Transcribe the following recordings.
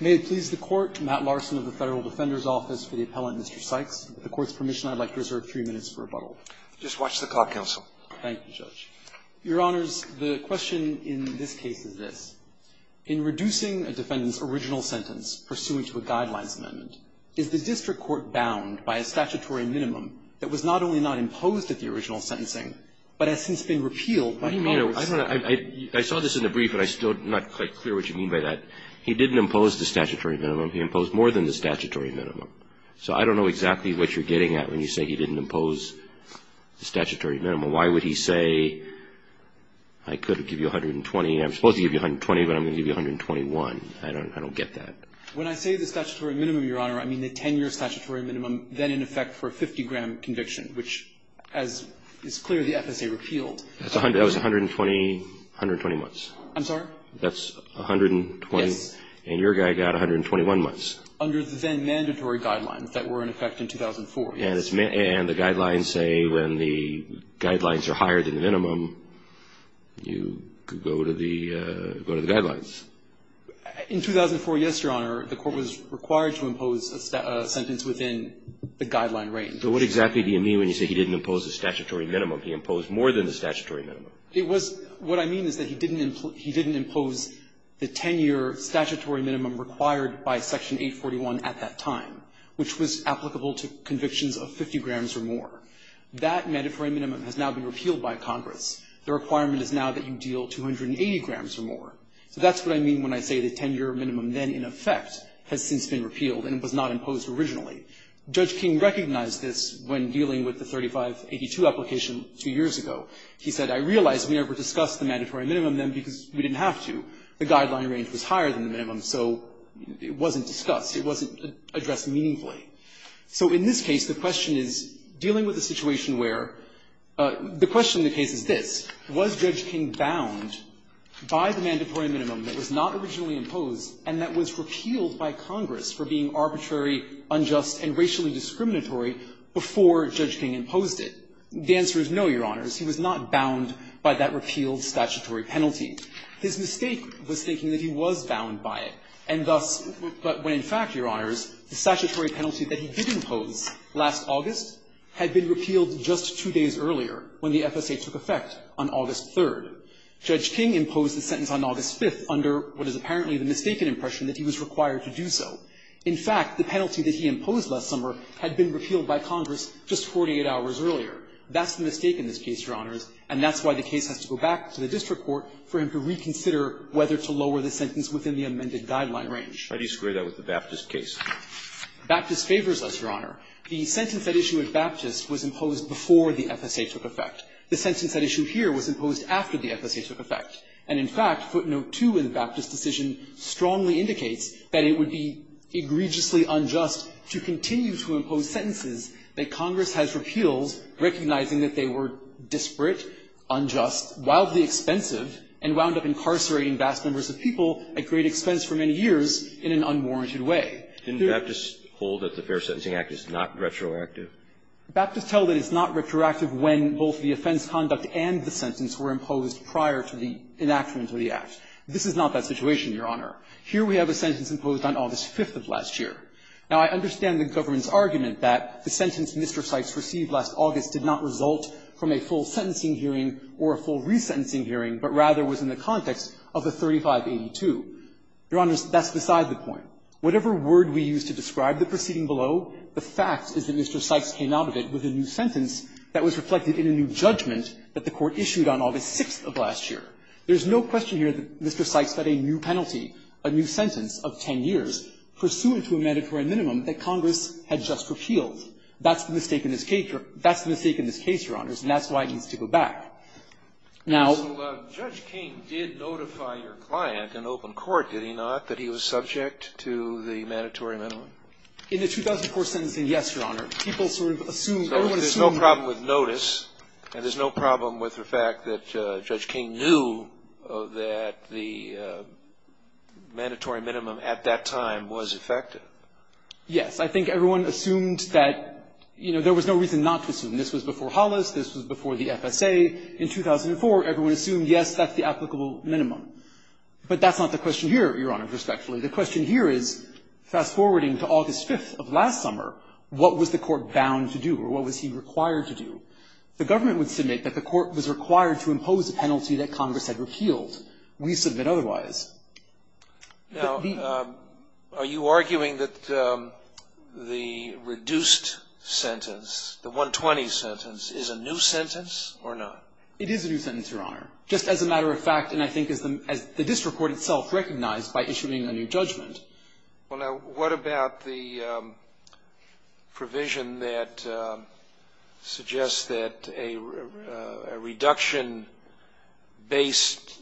May it please the Court, Matt Larson of the Federal Defender's Office for the Appellant, Mr. Sykes. With the Court's permission, I'd like to reserve three minutes for rebuttal. Just watch the clock, Counsel. Thank you, Judge. Your Honors, the question in this case is this. In reducing a defendant's original sentence pursuant to a Guidelines Amendment, is the District Court bound by a statutory minimum that was not only not imposed at the original sentencing, but has since been repealed by Congress? I saw this in the brief, but I'm still not quite clear what you mean by that. He didn't impose the statutory minimum. He imposed more than the statutory minimum. So I don't know exactly what you're getting at when you say he didn't impose the statutory minimum. Why would he say, I could give you 120, I'm supposed to give you 120, but I'm going to give you 121? I don't get that. When I say the statutory minimum, Your Honor, I mean the 10-year statutory minimum, then in effect for a 50-gram conviction, which, as is clear, the FSA repealed. That was 120 months. I'm sorry? That's 120? Yes. And your guy got 121 months. Under the then-mandatory guidelines that were in effect in 2004. And the guidelines say when the guidelines are higher than the minimum, you go to the guidelines. In 2004, yes, Your Honor, the Court was required to impose a sentence within the guideline range. So what exactly do you mean when you say he didn't impose the statutory minimum? He imposed more than the statutory minimum. It was what I mean is that he didn't impose the 10-year statutory minimum required by Section 841 at that time, which was applicable to convictions of 50 grams or more. That mandatory minimum has now been repealed by Congress. The requirement is now that you deal 280 grams or more. So that's what I mean when I say the 10-year minimum then in effect has since been repealed and was not imposed originally. Judge King recognized this when dealing with the 3582 application two years ago. He said, I realize we never discussed the mandatory minimum then because we didn't have to. The guideline range was higher than the minimum, so it wasn't discussed. It wasn't addressed meaningfully. So in this case, the question is, dealing with a situation where the question of the case is this, was Judge King bound by the mandatory minimum that was not originally imposed and that was repealed by Congress for being arbitrary, unjust, and racially discriminatory before Judge King imposed it? The answer is no, Your Honors. He was not bound by that repealed statutory penalty. His mistake was thinking that he was bound by it, and thus, but when in fact, Your Honors, the statutory penalty that he did impose last August had been repealed just two days earlier when the FSA took effect on August 3rd. Judge King imposed the sentence on August 5th under what is apparently the mistaken impression that he was required to do so. In fact, the penalty that he imposed last summer had been repealed by Congress just 48 hours earlier. That's the mistake in this case, Your Honors, and that's why the case has to go back to the district court for him to reconsider whether to lower the sentence within the amended guideline range. How do you square that with the Baptist case? Baptist favors us, Your Honor. The sentence at issue at Baptist was imposed before the FSA took effect. The sentence at issue here was imposed after the FSA took effect. And in fact, footnote 2 in the Baptist decision strongly indicates that it would be egregiously unjust to continue to impose sentences that Congress has repealed, recognizing that they were disparate, unjust, wildly expensive, and wound up incarcerating vast numbers of people at great expense for many years in an unwarranted way. Didn't Baptist hold that the Fair Sentencing Act is not retroactive? Baptist held that it's not retroactive when both the offense conduct and the sentence were imposed prior to the enactment of the Act. This is not that situation, Your Honor. Here we have a sentence imposed on August 5th of last year. Now, I understand the government's argument that the sentence Mr. Sykes received last August did not result from a full sentencing hearing or a full resentencing hearing, but rather was in the context of the 3582. Your Honor, that's beside the point. Whatever word we use to describe the proceeding below, the fact is that Mr. Sykes came out of it with a new sentence that was reflected in a new judgment that the Court issued on August 6th of last year. There's no question here that Mr. Sykes had a new penalty, a new sentence of 10 years, pursuant to a mandatory minimum that Congress had just repealed. That's the mistake in this case, Your Honor. That's the mistake in this case, Your Honors, and that's why it needs to go back. Now — So Judge King did notify your client in open court, did he not, that he was subject to the mandatory minimum? In the 2004 sentencing, yes, Your Honor. People sort of assumed — So there's no problem with notice, and there's no problem with the fact that Judge King knew that the mandatory minimum at that time was effective? Yes. I think everyone assumed that — you know, there was no reason not to assume. This was before Hollis. This was before the FSA. In 2004, everyone assumed, yes, that's the applicable minimum. But that's not the question here, Your Honor, respectfully. The question here is, fast-forwarding to August 5th of last summer, what was the Court bound to do, or what was he required to do? The government would submit that the Court was required to impose a penalty that Congress had repealed. We submit otherwise. Now, are you arguing that the reduced sentence, the 120 sentence, is a new sentence or not? It is a new sentence, Your Honor, just as a matter of fact, and I think as the district court itself recognized by issuing a new judgment. Well, now, what about the provision that suggests that a reduction-based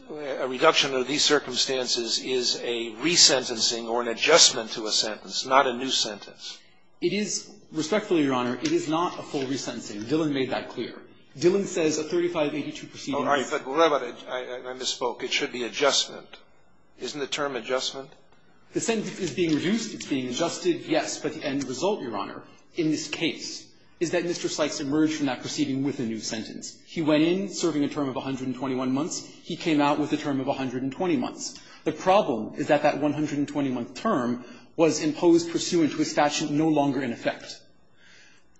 — a reduction of these circumstances is a resentencing or an adjustment to a sentence, not a new sentence? It is — respectfully, Your Honor, it is not a full resentencing. Dillon made that clear. Dillon says a 3582 proceeding is — All right. But wait a minute. I misspoke. It should be adjustment. Isn't the term adjustment? The sentence is being reduced. It's being adjusted, yes. But the end result, Your Honor, in this case, is that Mr. Sykes emerged from that proceeding with a new sentence. He went in serving a term of 121 months. He came out with a term of 120 months. The problem is that that 120-month term was imposed pursuant to a statute no longer in effect.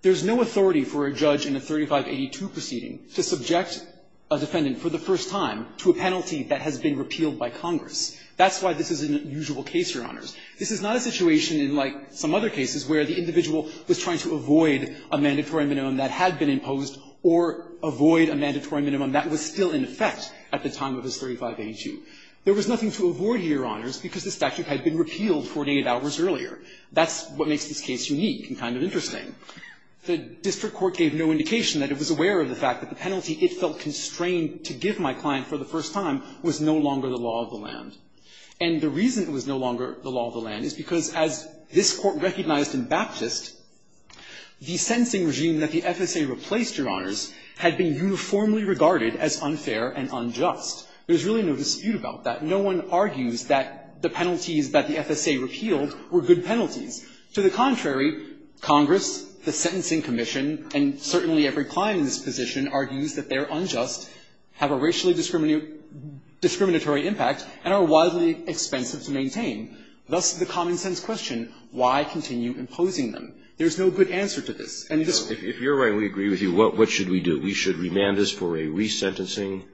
There is no authority for a judge in a 3582 proceeding to subject a defendant for the first time to a penalty that has been repealed by Congress. That's why this is an unusual case, Your Honors. This is not a situation in, like, some other cases where the individual was trying to avoid a mandatory minimum that had been imposed or avoid a mandatory minimum that was still in effect at the time of his 3582. There was nothing to avoid here, Your Honors, because the statute had been repealed 48 hours earlier. That's what makes this case unique and kind of interesting. The district court gave no indication that it was aware of the fact that the penalty it felt constrained to give my client for the first time was no longer the law of the land. And the reason it was no longer the law of the land is because, as this Court recognized in Baptist, the sentencing regime that the FSA replaced, Your Honors, had been uniformly regarded as unfair and unjust. There's really no dispute about that. No one argues that the penalties that the FSA repealed were good penalties. To the contrary, Congress, the Sentencing Commission, and certainly every client in this position argues that they're unjust, have a racially discriminatory impact, and are wildly expensive to maintain. Thus, the common-sense question, why continue imposing them? There's no good answer to this. And it's not. Kennedy. If you're right and we agree with you, what should we do? We should remand this for a resentencing?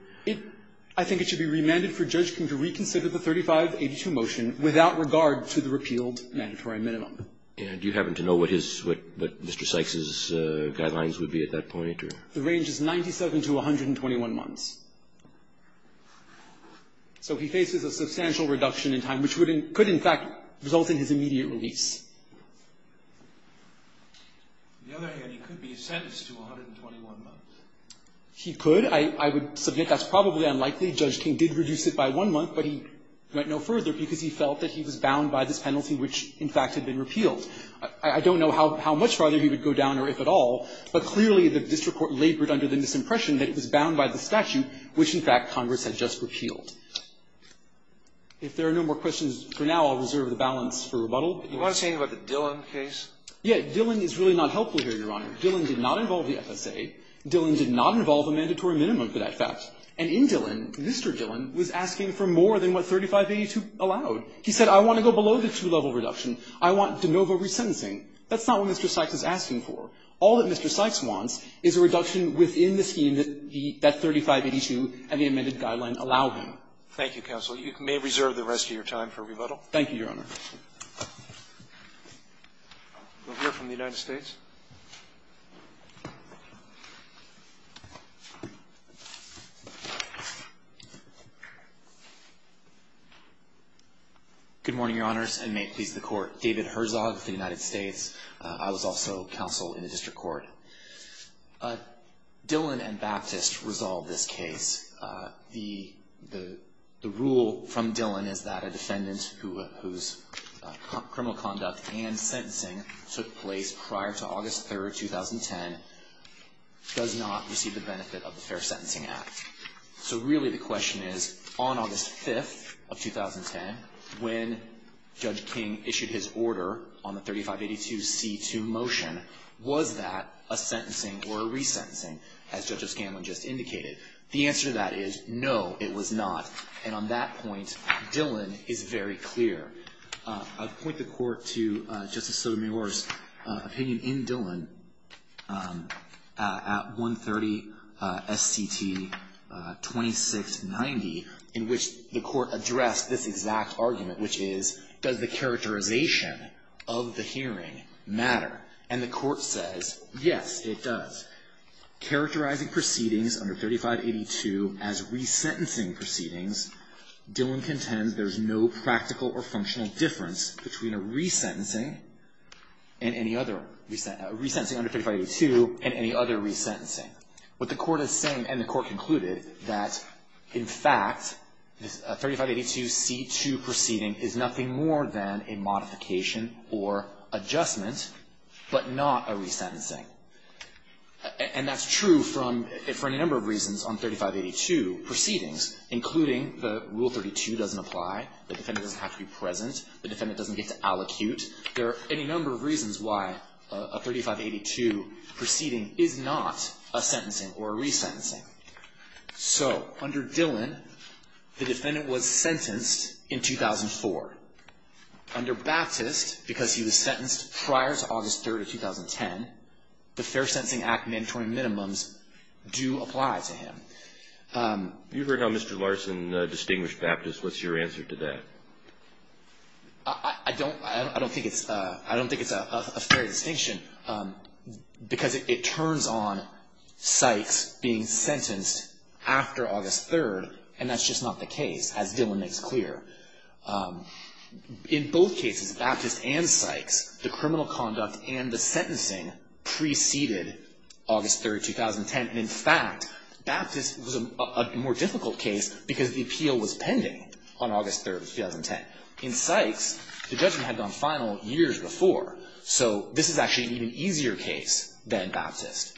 I think it should be remanded for judgment to reconsider the 3582 motion without regard to the repealed mandatory minimum. And do you happen to know what his Mr. Sykes' guidelines would be at that point? The range is 97 to 121 months. So he faces a substantial reduction in time, which would in – could in fact result in his immediate release. On the other hand, he could be sentenced to 121 months. He could. I would subject that's probably unlikely. Judge King did reduce it by one month, but he went no further because he felt that he was bound by this penalty, which in fact had been repealed. I don't know how much farther he would go down or if at all, but clearly the district court labored under the misimpression that it was bound by the statute, which in fact Congress had just repealed. If there are no more questions for now, I'll reserve the balance for rebuttal. Do you want to say anything about the Dillon case? Yeah. Dillon is really not helpful here, Your Honor. Dillon did not involve the FSA. Dillon did not involve a mandatory minimum for that fact. And in Dillon, Mr. Dillon was asking for more than what 3582 allowed. He said, I want to go below the two-level reduction. I want de novo resentencing. That's not what Mr. Sykes is asking for. All that Mr. Sykes wants is a reduction within the scheme that 3582 and the amended guideline allow him. Thank you, counsel. You may reserve the rest of your time for rebuttal. Thank you, Your Honor. We'll hear from the United States. Good morning, Your Honors, and may it please the Court. David Herzog of the United States. I was also counsel in the district court. Dillon and Baptist resolved this case. The rule from Dillon is that a defendant whose criminal conduct and sentencing took place prior to August 3, 2010, does not receive the benefit of the Fair Sentencing Act. So really the question is, on August 5th of 2010, when Judge King issued his order on the 3582C2 motion, was that a sentencing or a resentencing, as Judge O'Scanlan just indicated? The answer to that is, no, it was not. And on that point, Dillon is very clear. I point the Court to Justice Sotomayor's opinion in Dillon at 130 S.C.T. 2690, in which the Court addressed this exact argument, which is, does the characterization of the hearing matter? And the Court says, yes, it does. Characterizing proceedings under 3582 as resentencing proceedings, Dillon contends there's no practical or functional difference between a resentencing under 3582 and any other resentencing. What the Court is saying, and the Court concluded, that in fact, a 3582C2 proceeding is nothing more than a modification or adjustment, but not a resentencing. And that's true for any number of reasons on 3582 proceedings, including the Rule 32 doesn't apply, the defendant doesn't have to be present, the defendant doesn't get to allocute. There are any number of reasons why a 3582 proceeding is not a sentencing or a resentencing. So, under Dillon, the defendant was sentenced in 2004. Under Baptist, because he was sentenced prior to August 3rd of 2010, the Fair Sentencing Act mandatory minimums do apply to him. You heard how Mr. Larson distinguished Baptist, what's your answer to that? I don't think it's a fair distinction, because it turns on Sykes being sentenced after August 3rd, and that's just not the case, as Dillon makes clear. In both cases, Baptist and Sykes, the criminal conduct and the sentencing preceded August 3rd, 2010. And in fact, Baptist was a more difficult case because the appeal was pending on August 3rd, 2010. In Sykes, the judgment had gone final years before, so this is actually an even easier case than Baptist.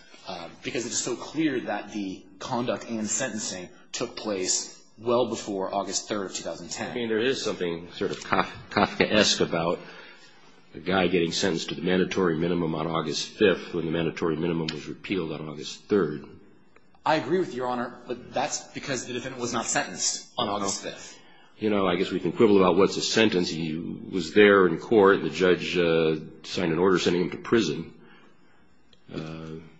Because it's so clear that the conduct and sentencing took place well before August 3rd of 2010. I mean, there is something sort of Kafkaesque about a guy getting sentenced to the mandatory minimum on August 5th when the mandatory minimum was repealed on August 3rd. I agree with you, Your Honor, but that's because the defendant was not sentenced on August 5th. You know, I guess we can quibble about what's a sentence. He was there in court, the judge signed an order sending him to prison.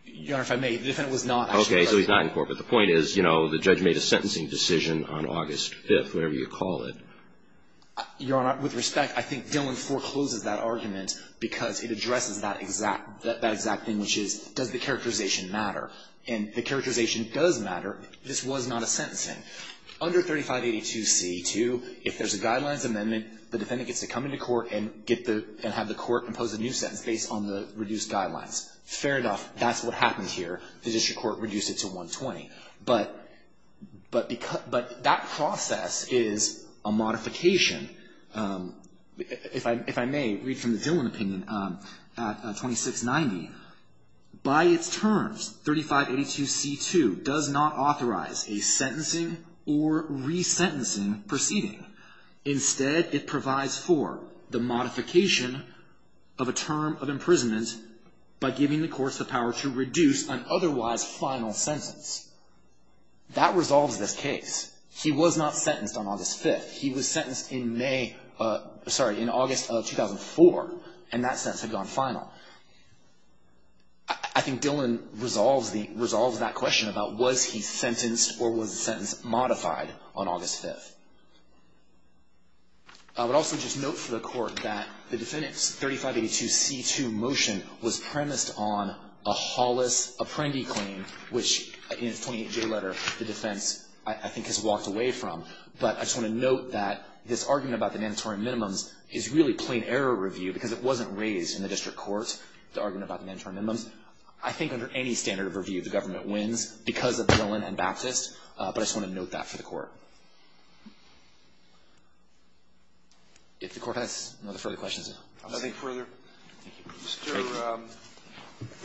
Your Honor, if I may, the defendant was not actually present. But the point is, you know, the judge made a sentencing decision on August 5th, whatever you call it. Your Honor, with respect, I think Dillon forecloses that argument because it addresses that exact thing, which is, does the characterization matter? And the characterization does matter. This was not a sentencing. Under 3582C2, if there's a guidelines amendment, the defendant gets to come into court and have the court impose a new sentence based on the reduced guidelines. Fair enough. That's what happened here. The district court reduced it to 120. But that process is a modification. If I may read from the Dillon opinion, at 2690, by its terms, 3582C2 does not authorize a sentencing or resentencing proceeding. Instead, it provides for the modification of a term of imprisonment by giving the courts the power to reduce an otherwise final sentence. That resolves this case. He was not sentenced on August 5th. He was sentenced in May, sorry, in August of 2004, and that sentence had gone final. I think Dillon resolves that question about was he sentenced or was the sentence modified on August 5th. I would also just note for the court that the defendant's 3582C2 motion was premised on a Hollis Apprendi claim, which in its 28J letter, the defense, I think, has walked away from. But I just want to note that this argument about the mandatory minimums is really plain error review because it wasn't raised in the district court, the argument about the mandatory minimums. I think under any standard of review, the government wins because of Dillon and Baptist. But I just want to note that for the court. If the Court has no further questions. I'll take further. Mr.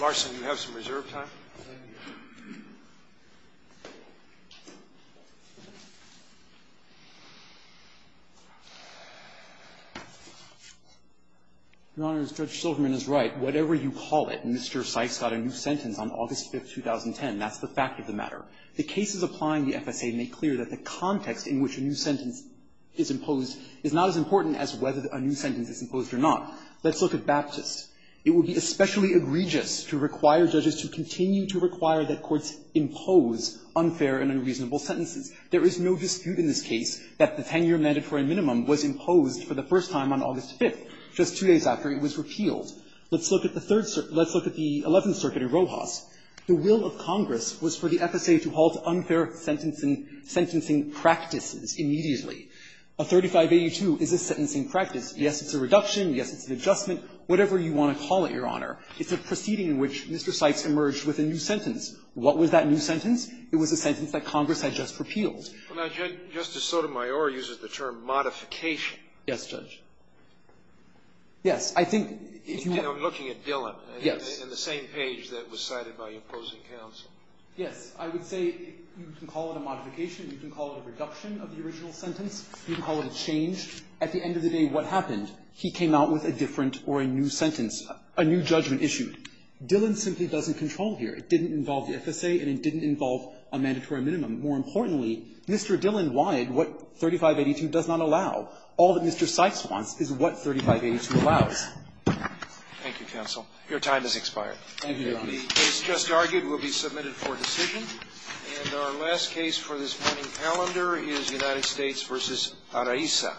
Larson, you have some reserve time. Your Honor, Judge Silverman is right. Whatever you call it, Mr. Sykes got a new sentence on August 5th, 2010. That's the fact of the matter. The cases applying the FSA make clear that the context in which a new sentence is imposed is not as important as whether a new sentence is imposed or not. Let's look at Baptist. It would be especially egregious to require judges to continue to require that courts impose unfair and unreasonable sentences. There is no dispute in this case that the 10-year mandatory minimum was imposed for the first time on August 5th, just two days after it was repealed. Let's look at the Third Circuit. Let's look at the Eleventh Circuit in Rojas. The will of Congress was for the FSA to halt unfair sentencing practices immediately. A 3582 is a sentencing practice. Yes, it's a reduction. Yes, it's an adjustment. Whatever you want to call it, Your Honor. It's a proceeding in which Mr. Sykes emerged with a new sentence. What was that new sentence? It was a sentence that Congress had just repealed. Well, now, Judge, Justice Sotomayor uses the term modification. Yes, Judge. Yes. I think if you want to. And I'm looking at Dillon. Yes. In the same page that was cited by your opposing counsel. Yes. I would say you can call it a modification. You can call it a reduction of the original sentence. You can call it a change. At the end of the day, what happened? He came out with a different or a new sentence, a new judgment issued. Dillon simply doesn't control here. It didn't involve the FSA, and it didn't involve a mandatory minimum. More importantly, Mr. Dillon wanted what 3582 does not allow. All that Mr. Sykes wants is what 3582 allows. Thank you, counsel. Your time has expired. Thank you, Your Honor. The case just argued will be submitted for decision. And our last case for this morning's calendar is United States v. Araiza.